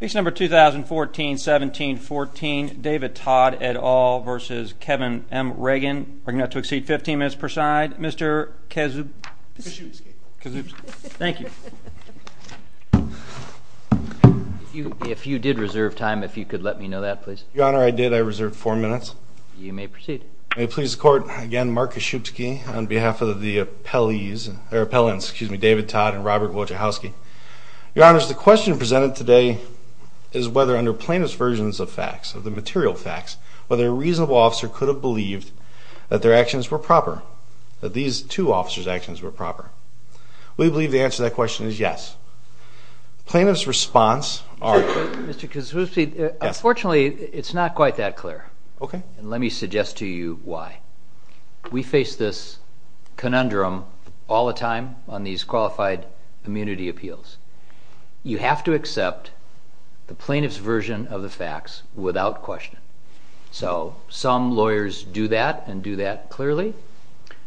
Case number 2014-17-14, David Todd et al. v. Kevin M Regan. We're going to have to exceed 15 minutes per side. Mr. Kazuchowski. Thank you. If you did reserve time, if you could let me know that, please. Your Honor, I did. I reserved four minutes. You may proceed. May it please the Court, again, Mark Kazuchowski on behalf of the appellees, or appellants, excuse me, David Todd and Robert Wojciechowski. Your Honor, the question presented today is whether under plaintiff's versions of facts, of the material facts, whether a reasonable officer could have believed that their actions were proper, that these two officers' actions were proper. We believe the answer to that question is yes. Plaintiff's response are... Mr. Kazuchowski, unfortunately, it's not quite that clear. Okay. And let me suggest to you why. We face this conundrum all the time on these qualified immunity appeals. You have to accept the plaintiff's version of the facts without question. So some lawyers do that and do that clearly.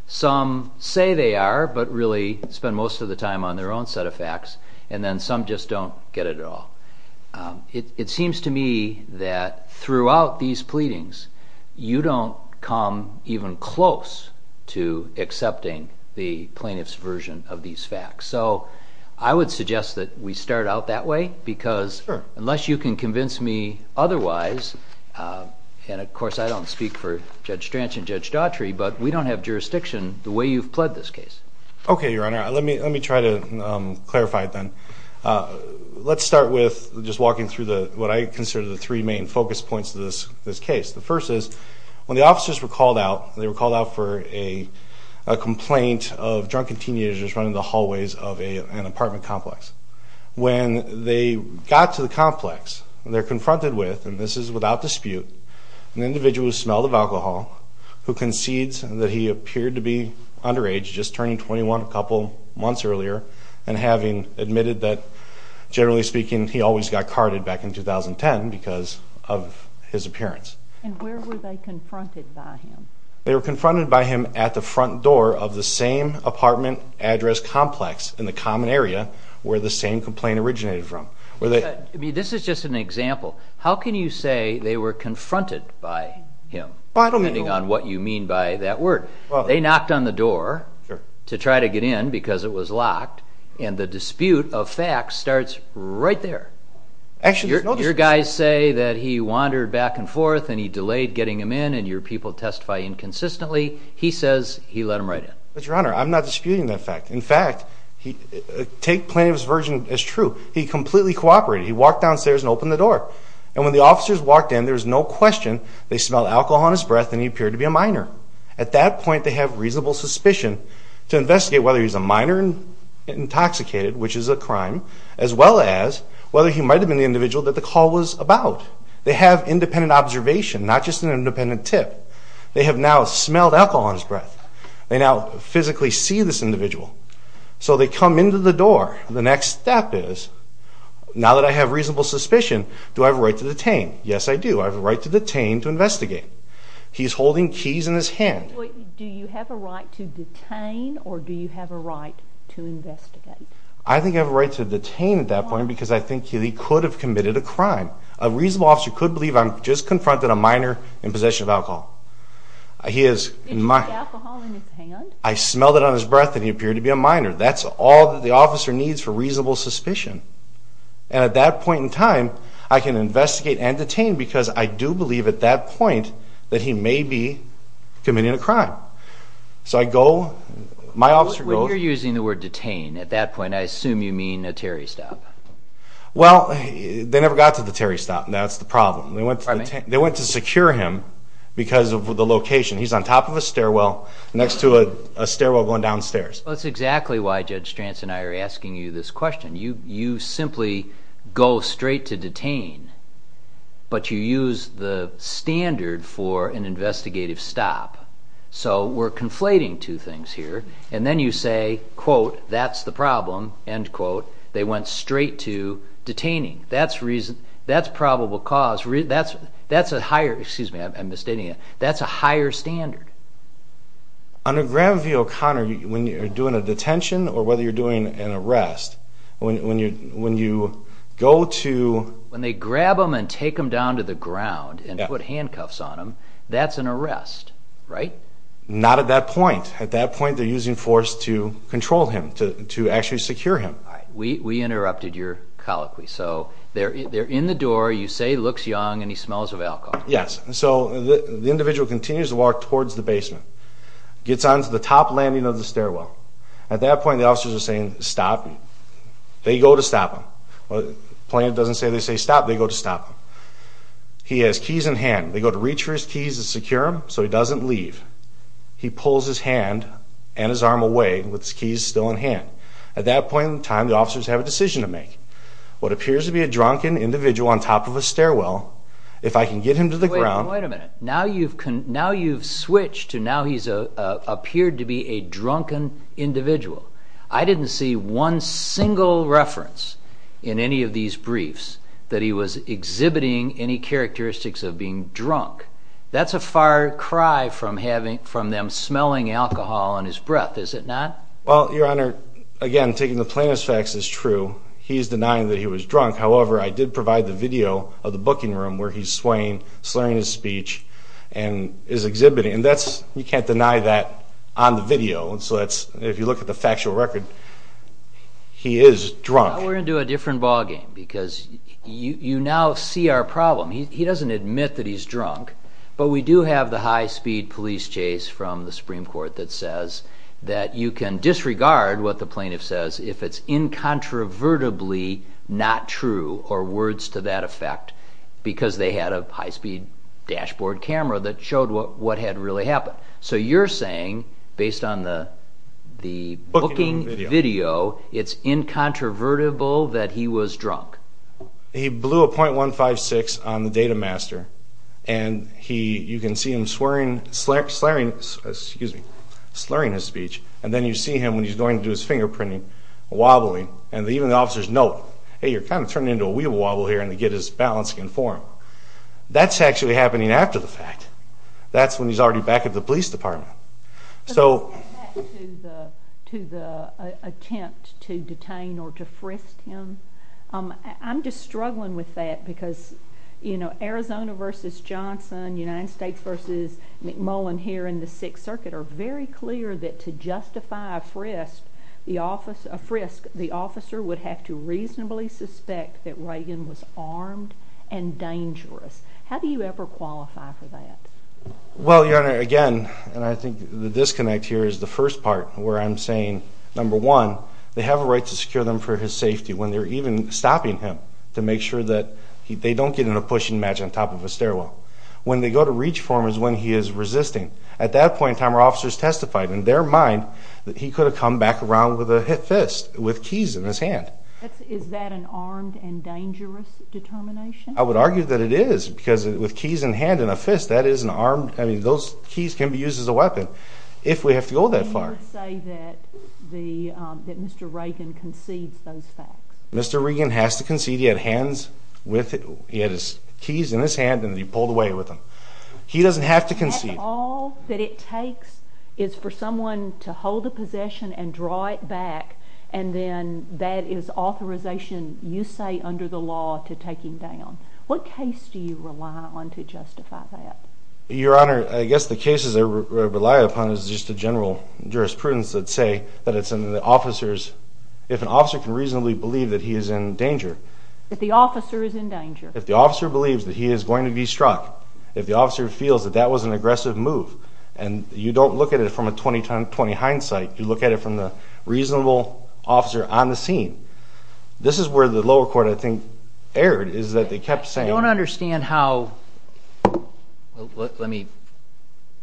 Some say they are, but really spend most of the time on their own set of facts. And then some just don't get it at all. It seems to me that throughout these pleadings, you don't come even close to accepting the plaintiff's version of these facts. So I would suggest that we start out that way because unless you can convince me otherwise, and of course I don't speak for Judge Stranch and Judge Daughtry, but we don't have jurisdiction the way you've pled this case. Okay, Your Honor. Let me try to clarify it then. Let's start with just walking through what I consider the three main focus points of this case. The first is when the officers were called out, they were called out for a complaint of drunken teenagers running the hallways of an apartment complex. When they got to the complex, they're confronted with, and this is without dispute, an individual who smelled of alcohol, who concedes that he appeared to be underage, just turning 21 a couple months earlier, and having admitted that, generally speaking, he always got carded back in 2010 because of his appearance. And where were they confronted by him? They were confronted by him at the front door of the same apartment address complex in the common area where the same complaint originated from. This is just an example. How can you say they were confronted by him, depending on what you mean by that word? They knocked on the door to try to get in because it was locked, and the dispute of facts starts right there. Your guys say that he wandered back and forth and he delayed getting him in and your people testify inconsistently. He says he let him right in. But, Your Honor, I'm not disputing that fact. In fact, take Plaintiff's version as true. He completely cooperated. He walked downstairs and opened the door. And when the officers walked in, there was no question they smelled alcohol on his breath and he appeared to be a minor. At that point, they have reasonable suspicion to investigate whether he's a minor and intoxicated, which is a crime, as well as whether he might have been the individual that the call was about. They have independent observation, not just an independent tip. They have now smelled alcohol on his breath. They now physically see this individual. So they come into the door. The next step is, now that I have reasonable suspicion, do I have a right to detain? Yes, I do. I have a right to detain to investigate. He's holding keys in his hand. Do you have a right to detain or do you have a right to investigate? I think I have a right to detain at that point because I think he could have committed a crime. A reasonable officer could believe I just confronted a minor in possession of alcohol. Did he take alcohol in his hand? I smelled it on his breath and he appeared to be a minor. That's all that the officer needs for reasonable suspicion. And at that point in time, I can investigate and detain because I do believe at that point that he may be committing a crime. When you're using the word detain at that point, I assume you mean a Terry stop. Well, they never got to the Terry stop, and that's the problem. They went to secure him because of the location. He's on top of a stairwell next to a stairwell going downstairs. That's exactly why Judge Stranz and I are asking you this question. You simply go straight to detain, but you use the standard for an investigative stop. So we're conflating two things here, and then you say, quote, that's the problem, end quote. They went straight to detaining. That's probable cause. That's a higher standard. Under Graham v. O'Connor, when you're doing a detention or whether you're doing an arrest, when you go to— When they grab him and take him down to the ground and put handcuffs on him, that's an arrest, right? Not at that point. At that point, they're using force to control him, to actually secure him. We interrupted your colloquy. So they're in the door. You say he looks young and he smells of alcohol. Yes. So the individual continues to walk towards the basement, gets onto the top landing of the stairwell. At that point, the officers are saying, stop. They go to stop him. The plaintiff doesn't say they say stop. They go to stop him. He has keys in hand. They go to reach for his keys to secure him so he doesn't leave. He pulls his hand and his arm away with his keys still in hand. At that point in time, the officers have a decision to make. What appears to be a drunken individual on top of a stairwell, if I can get him to the ground— Wait a minute. Now you've switched to now he's appeared to be a drunken individual. I didn't see one single reference in any of these briefs that he was exhibiting any characteristics of being drunk. That's a far cry from them smelling alcohol on his breath, is it not? Well, Your Honor, again, taking the plaintiff's facts as true, he's denying that he was drunk. However, I did provide the video of the booking room where he's swaying, slurring his speech, and is exhibiting. And that's—you can't deny that on the video. So that's—if you look at the factual record, he is drunk. Now we're going to do a different ballgame because you now see our problem. He doesn't admit that he's drunk. But we do have the high-speed police chase from the Supreme Court that says that you can disregard what the plaintiff says if it's incontrovertibly not true, or words to that effect, because they had a high-speed dashboard camera that showed what had really happened. So you're saying, based on the booking video, it's incontrovertible that he was drunk. He blew a .156 on the data master, and you can see him slurring his speech. And then you see him, when he's going to do his fingerprinting, wobbling. And even the officers know, hey, you're kind of turning into a wee wobble here, and they get his balance confirmed. That's actually happening after the fact. That's when he's already back at the police department. But getting back to the attempt to detain or to frisk him, I'm just struggling with that because Arizona v. Johnson, United States v. McMullen here in the Sixth Circuit are very clear that to justify a frisk, the officer would have to reasonably suspect that Reagan was armed and dangerous. How do you ever qualify for that? Well, Your Honor, again, and I think the disconnect here is the first part where I'm saying, number one, they have a right to secure them for his safety when they're even stopping him to make sure that they don't get in a pushing match on top of a stairwell. When they go to reach for him is when he is resisting. At that point in time, our officers testified in their mind that he could have come back around with a fist, with keys in his hand. Is that an armed and dangerous determination? I would argue that it is because with keys in hand and a fist, those keys can be used as a weapon if we have to go that far. Can you say that Mr. Reagan concedes those facts? Mr. Reagan has to concede. He had his keys in his hand and he pulled away with them. He doesn't have to concede. All that it takes is for someone to hold the possession and draw it back, and then that is authorization, you say, under the law to take him down. What case do you rely on to justify that? Your Honor, I guess the cases I rely upon is just a general jurisprudence that say that it's in the officer's, if an officer can reasonably believe that he is in danger. That the officer is in danger. If the officer believes that he is going to be struck, if the officer feels that that was an aggressive move, and you don't look at it from a 20-20 hindsight, you look at it from the reasonable officer on the scene. This is where the lower court, I think, erred, is that they kept saying... I don't understand how... Let me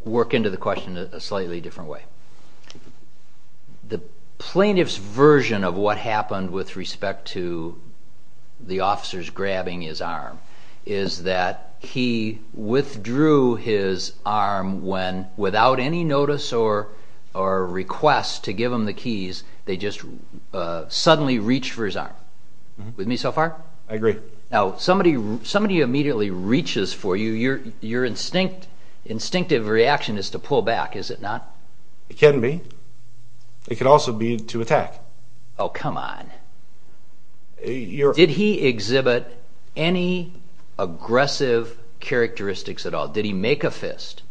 work into the question in a slightly different way. The plaintiff's version of what happened with respect to the officers grabbing his arm is that he withdrew his arm when, without any notice or request to give him the keys, they just suddenly reached for his arm. With me so far? I agree. Now, somebody immediately reaches for you, your instinctive reaction is to pull back, is it not? It can be. It could also be to attack. Oh, come on. Did he exhibit any aggressive characteristics at all? Did he make a fist?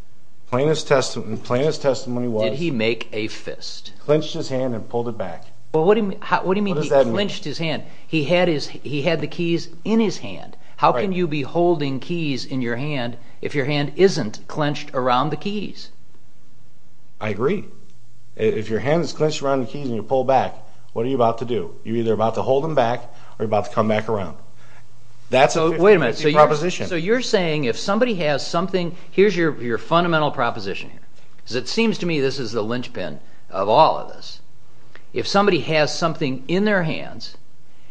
Plaintiff's testimony was... Did he make a fist? Clenched his hand and pulled it back. What do you mean he clenched his hand? He had the keys in his hand. How can you be holding keys in your hand if your hand isn't clenched around the keys? I agree. If your hand is clenched around the keys and you pull back, what are you about to do? You're either about to hold them back or you're about to come back around. That's a proposition. So you're saying if somebody has something... Here's your fundamental proposition. Because it seems to me this is the linchpin of all of this. If somebody has something in their hands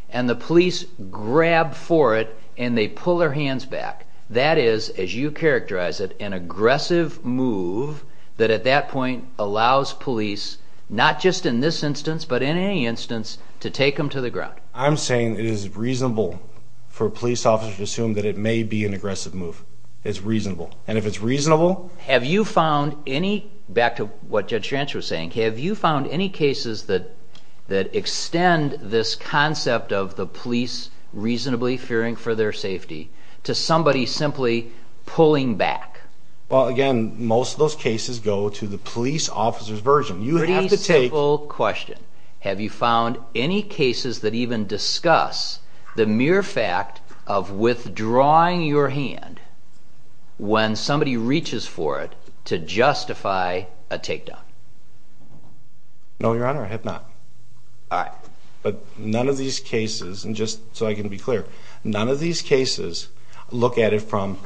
and the police grab for it and they pull their hands back, that is, as you characterize it, an aggressive move that at that point allows police, not just in this instance but in any instance, to take them to the ground. I'm saying it is reasonable for a police officer to assume that it may be an aggressive move. It's reasonable. And if it's reasonable... Have you found any... Back to what Judge Schrantz was saying. Have you found any cases that extend this concept of the police reasonably fearing for their safety to somebody simply pulling back? Well, again, most of those cases go to the police officer's version. Pretty simple question. Have you found any cases that even discuss the mere fact of withdrawing your hand when somebody reaches for it to justify a takedown? No, Your Honor, I have not. All right. But none of these cases, and just so I can be clear, none of these cases look at it from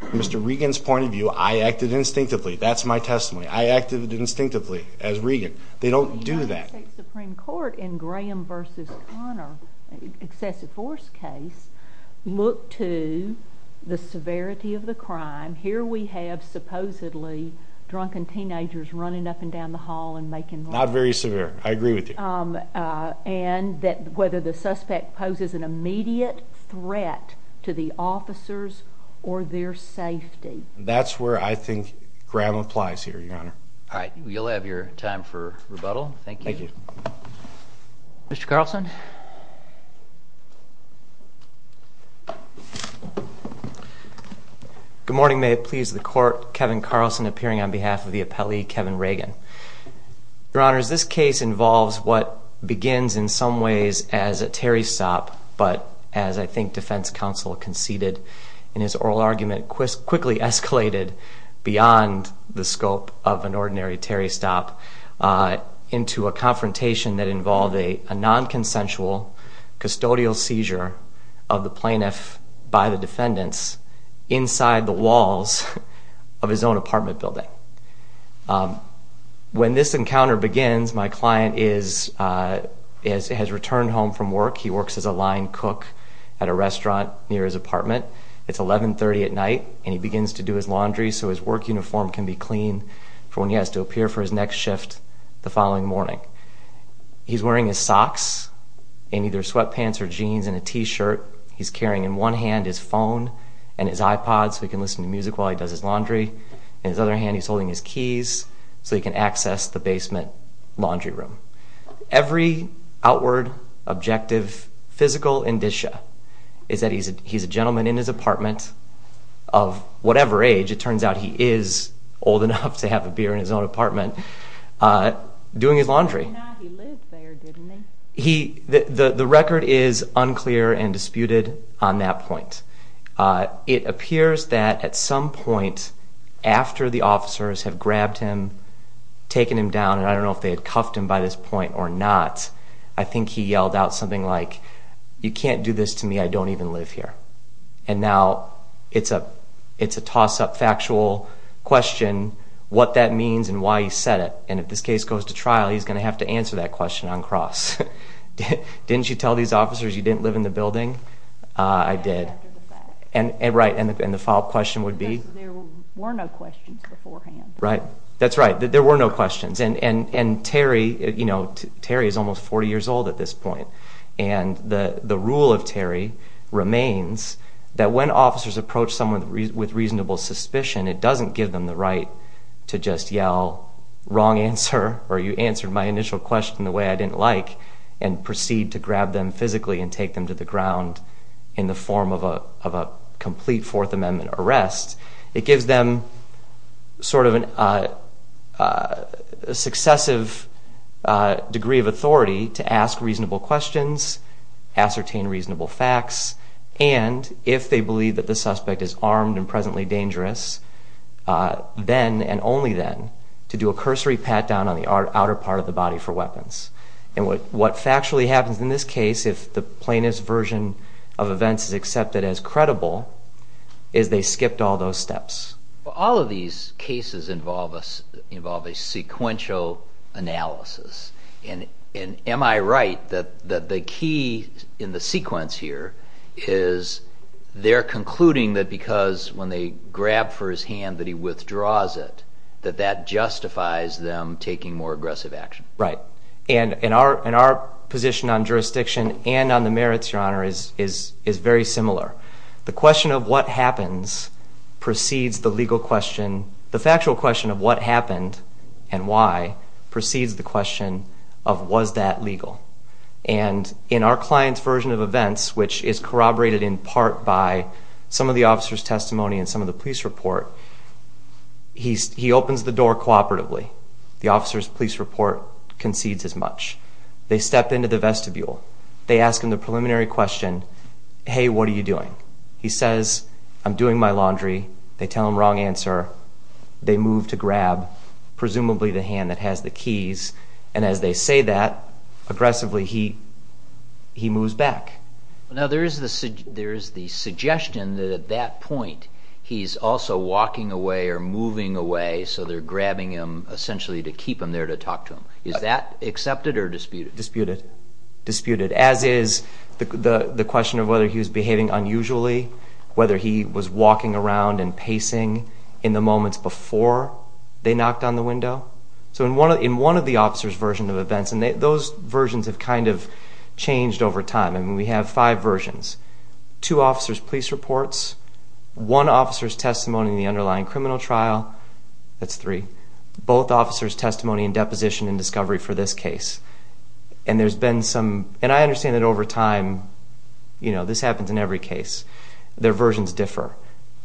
Mr. Regan's point of view. I acted instinctively. That's my testimony. I acted instinctively as Regan. They don't do that. The United States Supreme Court in Graham v. Conner, excessive force case, looked to the severity of the crime. Here we have supposedly drunken teenagers running up and down the hall and making... Not very severe. I agree with you. ...and whether the suspect poses an immediate threat to the officers or their safety. That's where I think Graham applies here, Your Honor. All right. You'll have your time for rebuttal. Thank you. Thank you. Mr. Carlson. Good morning. May it please the Court. Kevin Carlson appearing on behalf of the appellee, Kevin Regan. Your Honors, this case involves what begins in some ways as a Terry stop, but as I think defense counsel conceded in his oral argument, quickly escalated beyond the scope of an ordinary Terry stop into a confrontation that involved a non-consensual custodial seizure of the plaintiff by the defendants inside the walls of his own apartment building. When this encounter begins, my client has returned home from work. He works as a line cook at a restaurant near his apartment. It's 11.30 at night, and he begins to do his laundry so his work uniform can be clean for when he has to appear for his next shift the following morning. He's wearing his socks in either sweatpants or jeans and a T-shirt. He's carrying in one hand his phone and his iPod so he can listen to music while he does his laundry. In his other hand, he's holding his keys so he can access the basement laundry room. Every outward, objective, physical indicia is that he's a gentleman in his apartment of whatever age. It turns out he is old enough to have a beer in his own apartment doing his laundry. The record is unclear and disputed on that point. It appears that at some point after the officers have grabbed him, taken him down, and I don't know if they had cuffed him by this point or not, I think he yelled out something like, you can't do this to me, I don't even live here. And now it's a toss-up factual question what that means and why he said it. And if this case goes to trial, he's going to have to answer that question on cross. Didn't you tell these officers you didn't live in the building? I did. And the follow-up question would be? Because there were no questions beforehand. Right, that's right. There were no questions. And Terry is almost 40 years old at this point. And the rule of Terry remains that when officers approach someone with reasonable suspicion, it doesn't give them the right to just yell, wrong answer, or you answered my initial question the way I didn't like, and proceed to grab them physically and take them to the ground in the form of a complete Fourth Amendment arrest. It gives them sort of a successive degree of authority to ask reasonable questions, ascertain reasonable facts, and if they believe that the suspect is armed and presently dangerous, then and only then to do a cursory pat-down on the outer part of the body for weapons. And what factually happens in this case, if the plaintiff's version of events is accepted as credible, is they skipped all those steps. All of these cases involve a sequential analysis. And am I right that the key in the sequence here is they're concluding that because when they grab for his hand that he withdraws it, that that justifies them taking more aggressive action? Right. And our position on jurisdiction and on the merits, Your Honor, is very similar. The question of what happens precedes the legal question. The factual question of what happened and why precedes the question of was that legal. And in our client's version of events, which is corroborated in part by some of the officer's testimony and some of the police report, he opens the door cooperatively. The officer's police report concedes as much. They step into the vestibule. They ask him the preliminary question, hey, what are you doing? He says, I'm doing my laundry. They tell him wrong answer. They move to grab presumably the hand that has the keys. And as they say that, aggressively he moves back. Now there is the suggestion that at that point he's also walking away or moving away, so they're grabbing him essentially to keep him there to talk to him. Is that accepted or disputed? Disputed. Disputed, as is the question of whether he was behaving unusually, whether he was walking around and pacing in the moments before they knocked on the window. So in one of the officer's versions of events, and those versions have kind of changed over time, and we have five versions, two officer's police reports, one officer's testimony in the underlying criminal trial, that's three, both officer's testimony and deposition and discovery for this case. And there's been some, and I understand that over time, you know, this happens in every case. Their versions differ.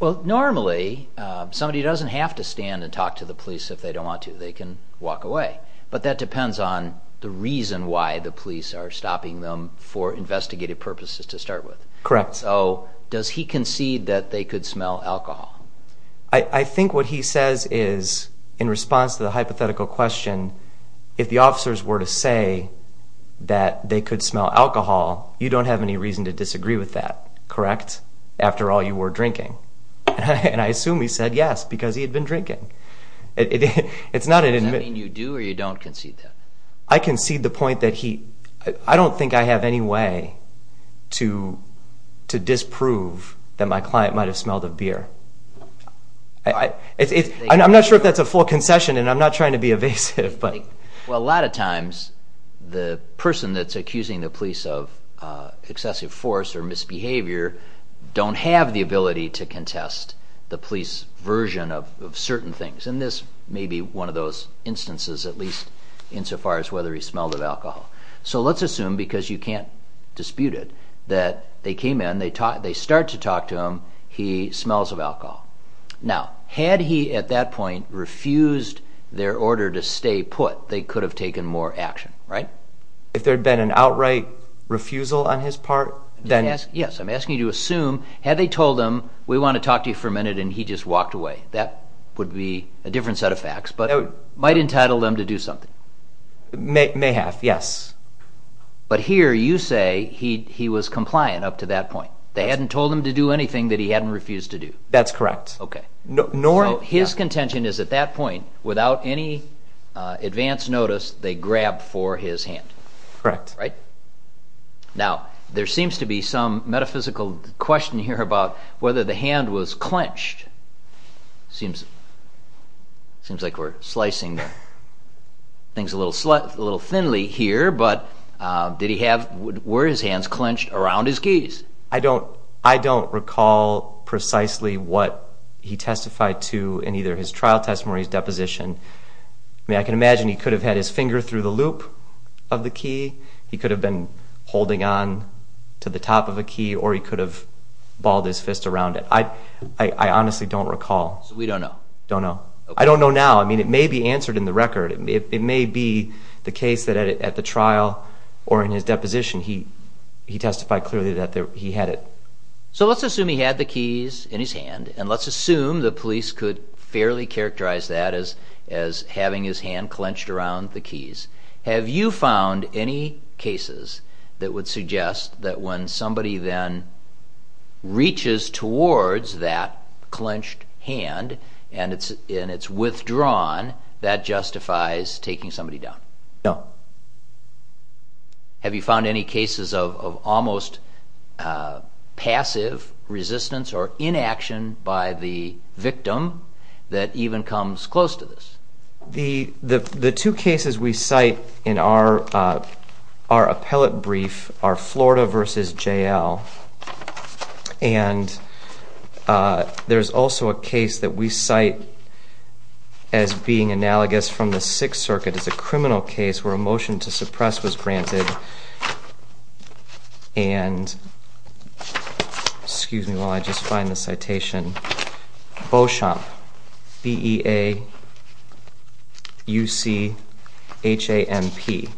Well, normally somebody doesn't have to stand and talk to the police if they don't want to. They can walk away. But that depends on the reason why the police are stopping them for investigative purposes to start with. Correct. So does he concede that they could smell alcohol? I think what he says is, in response to the hypothetical question, if the officers were to say that they could smell alcohol, you don't have any reason to disagree with that, correct? After all, you were drinking. And I assume he said yes because he had been drinking. Does that mean you do or you don't concede that? I concede the point that he, I don't think I have any way to disprove that my client might have smelled of beer. I'm not sure if that's a full concession, and I'm not trying to be evasive. Well, a lot of times the person that's accusing the police of excessive force or misbehavior don't have the ability to contest the police version of certain things. And this may be one of those instances, at least insofar as whether he smelled of alcohol. So let's assume, because you can't dispute it, that they came in, they start to talk to him, he smells of alcohol. Now, had he at that point refused their order to stay put, they could have taken more action, right? If there had been an outright refusal on his part? Yes, I'm asking you to assume, had they told him, we want to talk to you for a minute, and he just walked away. That would be a different set of facts, but it might entitle them to do something. May have, yes. But here you say he was compliant up to that point. They hadn't told him to do anything that he hadn't refused to do. That's correct. So his contention is at that point, without any advance notice, they grabbed for his hand. Correct. Now, there seems to be some metaphysical question here about whether the hand was clenched. Seems like we're slicing things a little thinly here, but were his hands clenched around his keys? I don't recall precisely what he testified to in either his trial testimony or his deposition. I can imagine he could have had his finger through the loop of the key. He could have been holding on to the top of a key, or he could have balled his fist around it. I honestly don't recall. So we don't know? Don't know. I don't know now. I mean, it may be answered in the record. It may be the case that at the trial or in his deposition, he testified clearly that he had it. So let's assume he had the keys in his hand, and let's assume the police could fairly characterize that as having his hand clenched around the keys. Have you found any cases that would suggest that when somebody then reaches towards that clenched hand and it's withdrawn, that justifies taking somebody down? No. Have you found any cases of almost passive resistance or inaction by the victim that even comes close to this? The two cases we cite in our appellate brief are Florida v. J.L., and there's also a case that we cite as being analogous from the Sixth Circuit. It's a criminal case where a motion to suppress was granted and, excuse me while I just find the citation, Beauchamp, B-E-A-U-C-H-A-M-P.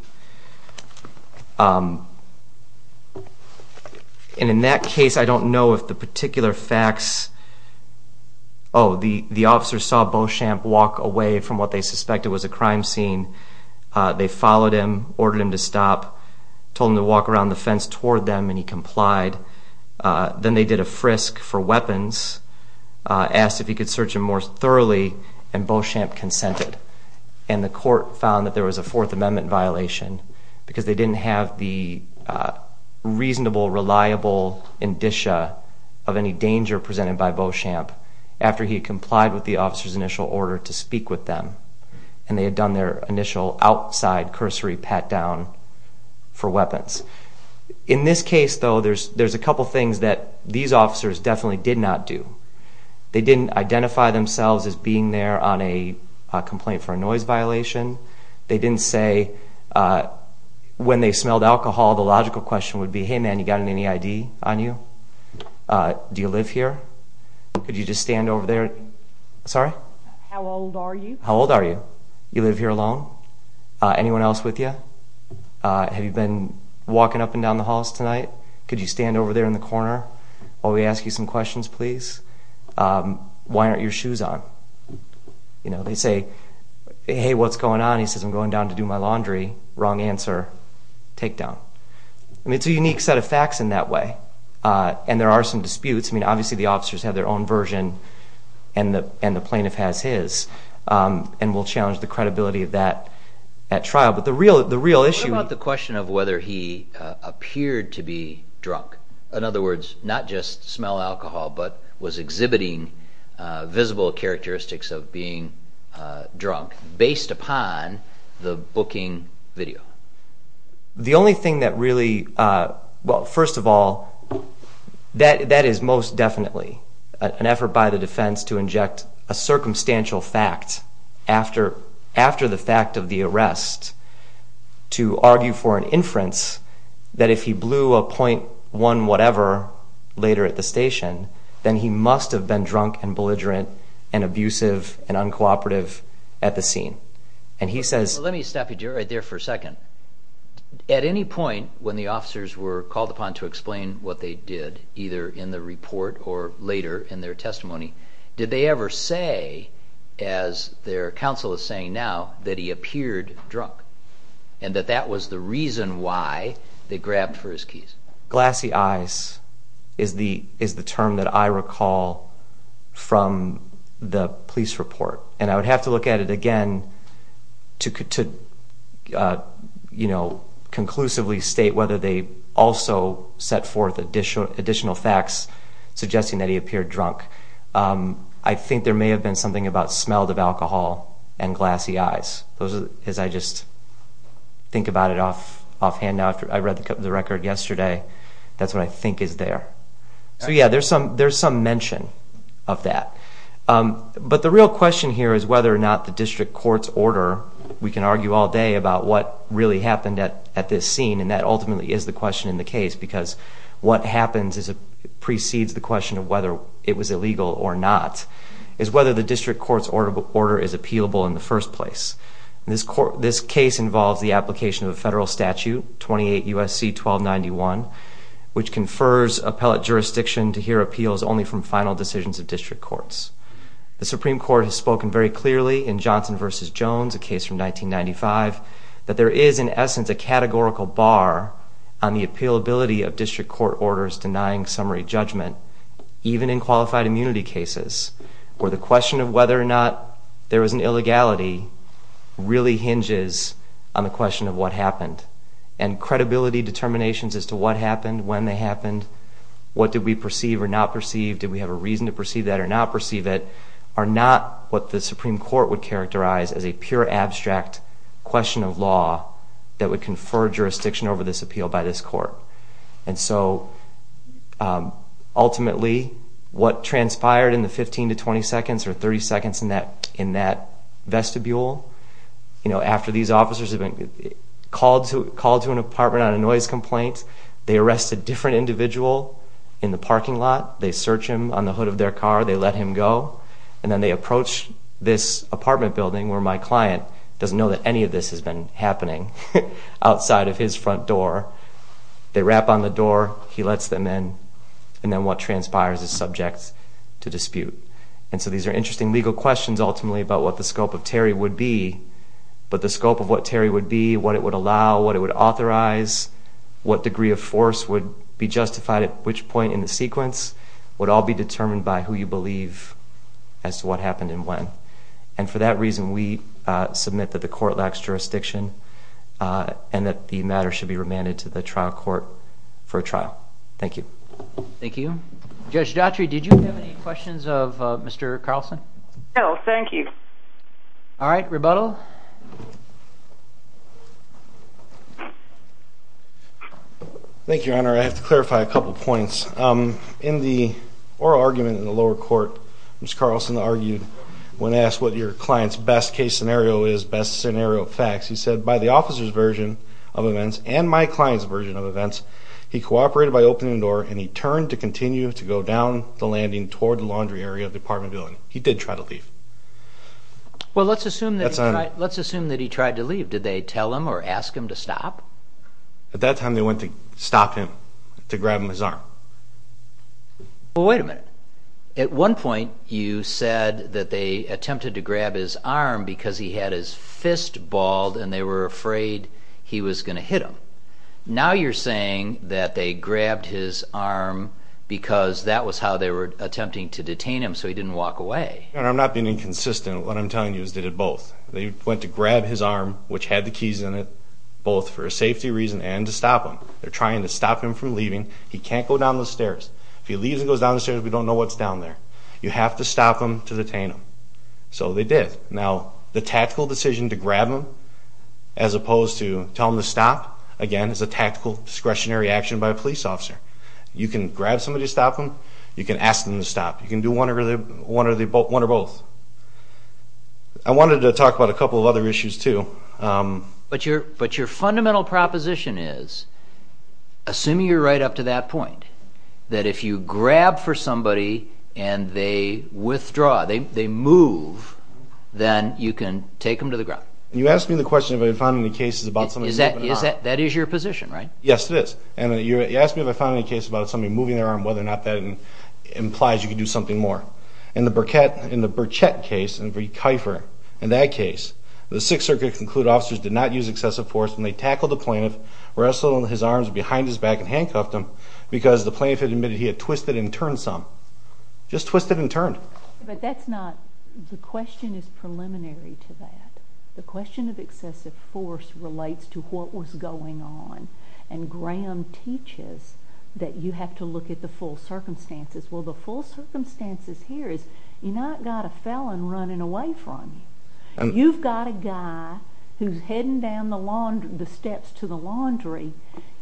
And in that case, I don't know if the particular facts, oh, the officer saw Beauchamp walk away from what they suspected was a crime scene. They followed him, ordered him to stop, told him to walk around the fence toward them, and he complied. Then they did a frisk for weapons, asked if he could search him more thoroughly, and Beauchamp consented. And the court found that there was a Fourth Amendment violation because they didn't have the reasonable, reliable indicia of any danger presented by Beauchamp after he had complied with the officer's initial order to speak with them, and they had done their initial outside cursory pat-down for weapons. In this case, though, there's a couple things that these officers definitely did not do. They didn't identify themselves as being there on a complaint for a noise violation. They didn't say when they smelled alcohol, the logical question would be, hey, man, you got any ID on you? Do you live here? Could you just stand over there? Sorry? How old are you? How old are you? You live here alone? Anyone else with you? Have you been walking up and down the halls tonight? Could you stand over there in the corner while we ask you some questions, please? Why aren't your shoes on? You know, they say, hey, what's going on? He says, I'm going down to do my laundry. Wrong answer. Take down. I mean, it's a unique set of facts in that way, and there are some disputes. I mean, obviously the officers have their own version, and the plaintiff has his, and we'll challenge the credibility of that at trial. But the real issue here is the fact that he was there. In other words, not just smell alcohol, but was exhibiting visible characteristics of being drunk based upon the booking video. The only thing that really, well, first of all, that is most definitely an effort by the defense to inject a circumstantial fact after the fact of the arrest to argue for an inference that if he blew a .1 whatever later at the station, then he must have been drunk and belligerent and abusive and uncooperative at the scene. And he says— Let me stop you right there for a second. At any point when the officers were called upon to explain what they did, either in the report or later in their testimony, did they ever say, as their counsel is saying now, that he appeared drunk and that that was the reason why they grabbed for his keys? Glassy eyes is the term that I recall from the police report. And I would have to look at it again to conclusively state whether they also set forth additional facts suggesting that he appeared drunk. I think there may have been something about smell of alcohol and glassy eyes. I just think about it offhand now. I read the record yesterday. That's what I think is there. So, yeah, there's some mention of that. But the real question here is whether or not the district court's order, we can argue all day about what really happened at this scene, and that ultimately is the question in the case because what happens precedes the question of whether it was illegal or not, is whether the district court's order is appealable in the first place. This case involves the application of a federal statute, 28 U.S.C. 1291, which confers appellate jurisdiction to hear appeals only from final decisions of district courts. The Supreme Court has spoken very clearly in Johnson v. Jones, a case from 1995, that there is, in essence, a categorical bar on the appealability of district court orders denying summary judgment, even in qualified immunity cases, where the question of whether or not there was an illegality really hinges on the question of what happened. And credibility determinations as to what happened, when they happened, what did we perceive or not perceive, did we have a reason to perceive that or not perceive it, are not what the Supreme Court would characterize as a pure abstract question of law that would confer jurisdiction over this appeal by this court. And so, ultimately, what transpired in the 15 to 20 seconds, or 30 seconds in that vestibule, after these officers have been called to an apartment on a noise complaint, they arrest a different individual in the parking lot, they search him on the hood of their car, they let him go, and then they approach this apartment building where my client doesn't know that any of this has been happening, outside of his front door. They rap on the door, he lets them in, and then what transpires is subject to dispute. And so these are interesting legal questions, ultimately, about what the scope of Terry would be, but the scope of what Terry would be, what it would allow, what it would authorize, what degree of force would be justified at which point in the sequence, would all be determined by who you believe as to what happened and when. And for that reason, we submit that the court lacks jurisdiction and that the matter should be remanded to the trial court for a trial. Thank you. Thank you. Judge Dautry, did you have any questions of Mr. Carlson? No, thank you. All right, rebuttal. Thank you, Your Honor. I have to clarify a couple of points. In the oral argument in the lower court, Mr. Carlson argued when asked what your client's best case scenario is, best scenario facts, he said, by the officer's version of events and my client's version of events, he cooperated by opening the door and he turned to continue to go down the landing toward the laundry area of the apartment building. He did try to leave. Well, let's assume that he tried to leave. Did they tell him or ask him to stop? At that time, they went to stop him, to grab him by his arm. Well, wait a minute. At one point you said that they attempted to grab his arm because he had his fist balled and they were afraid he was going to hit him. Now you're saying that they grabbed his arm because that was how they were attempting to detain him so he didn't walk away. Your Honor, I'm not being inconsistent. What I'm telling you is they did both. They went to grab his arm, which had the keys in it, both for a safety reason and to stop him. They're trying to stop him from leaving. He can't go down the stairs. If he leaves and goes down the stairs, we don't know what's down there. You have to stop him to detain him. So they did. Now, the tactical decision to grab him as opposed to tell him to stop, again, is a tactical discretionary action by a police officer. You can grab somebody to stop him. You can ask them to stop. You can do one or both. I wanted to talk about a couple of other issues too. But your fundamental proposition is, assuming you're right up to that point, that if you grab for somebody and they withdraw, they move, then you can take them to the ground. You asked me the question if I found any cases about somebody moving their arm. That is your position, right? Yes, it is. And you asked me if I found any cases about somebody moving their arm, whether or not that implies you can do something more. In the Burchette case, in that case, the Sixth Circuit concluded officers did not use excessive force when they tackled the plaintiff, wrestled his arms behind his back and handcuffed him because the plaintiff had admitted he had twisted and turned some. Just twisted and turned. But that's not the question. The question is preliminary to that. The question of excessive force relates to what was going on. And Graham teaches that you have to look at the full circumstances. Well, the full circumstances here is you've not got a felon running away from you. You've got a guy who's heading down the steps to the laundry.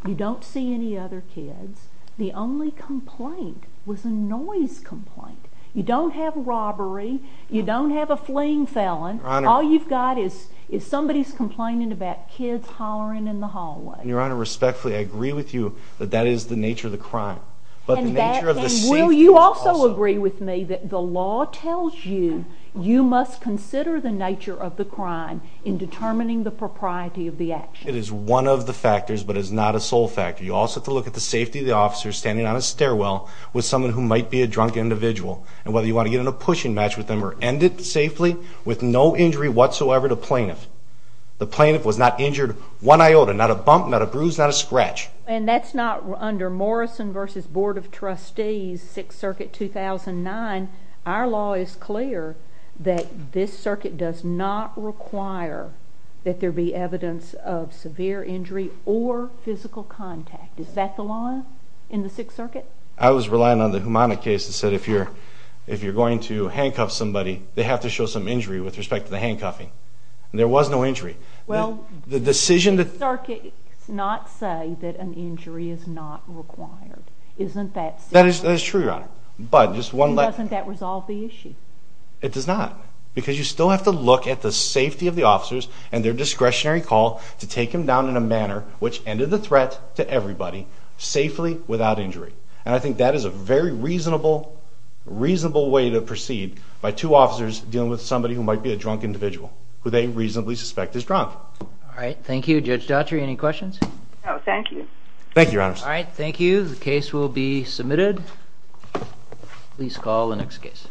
You don't see any other kids. The only complaint was a noise complaint. You don't have robbery. You don't have a fleeing felon. All you've got is somebody's complaining about kids hollering in the hallway. Your Honor, respectfully, I agree with you that that is the nature of the crime. But the nature of the safety is also. Will you also agree with me that the law tells you you must consider the nature of the crime in determining the propriety of the action? It is one of the factors, but it is not a sole factor. You also have to look at the safety of the officer standing on a stairwell with someone who might be a drunk individual and whether you want to get in a pushing match with them or end it safely with no injury whatsoever to plaintiff. The plaintiff was not injured one iota, not a bump, not a bruise, not a scratch. And that's not under Morrison v. Board of Trustees, 6th Circuit, 2009. Our law is clear that this circuit does not require that there be evidence of severe injury or physical contact. Is that the law in the 6th Circuit? I was relying on the Humana case that said if you're going to handcuff somebody, they have to show some injury with respect to the handcuffing. There was no injury. Well, the circuit does not say that an injury is not required. Isn't that so? That is true, Your Honor. Doesn't that resolve the issue? It does not because you still have to look at the safety of the officers and their discretionary call to take them down in a manner which ended the threat to everybody safely without injury. And I think that is a very reasonable way to proceed by two officers dealing with somebody who might be a drunk individual who they reasonably suspect is drunk. All right, thank you. Judge Dottry, any questions? No, thank you. Thank you, Your Honor. All right, thank you. The case will be submitted. Please call the next case.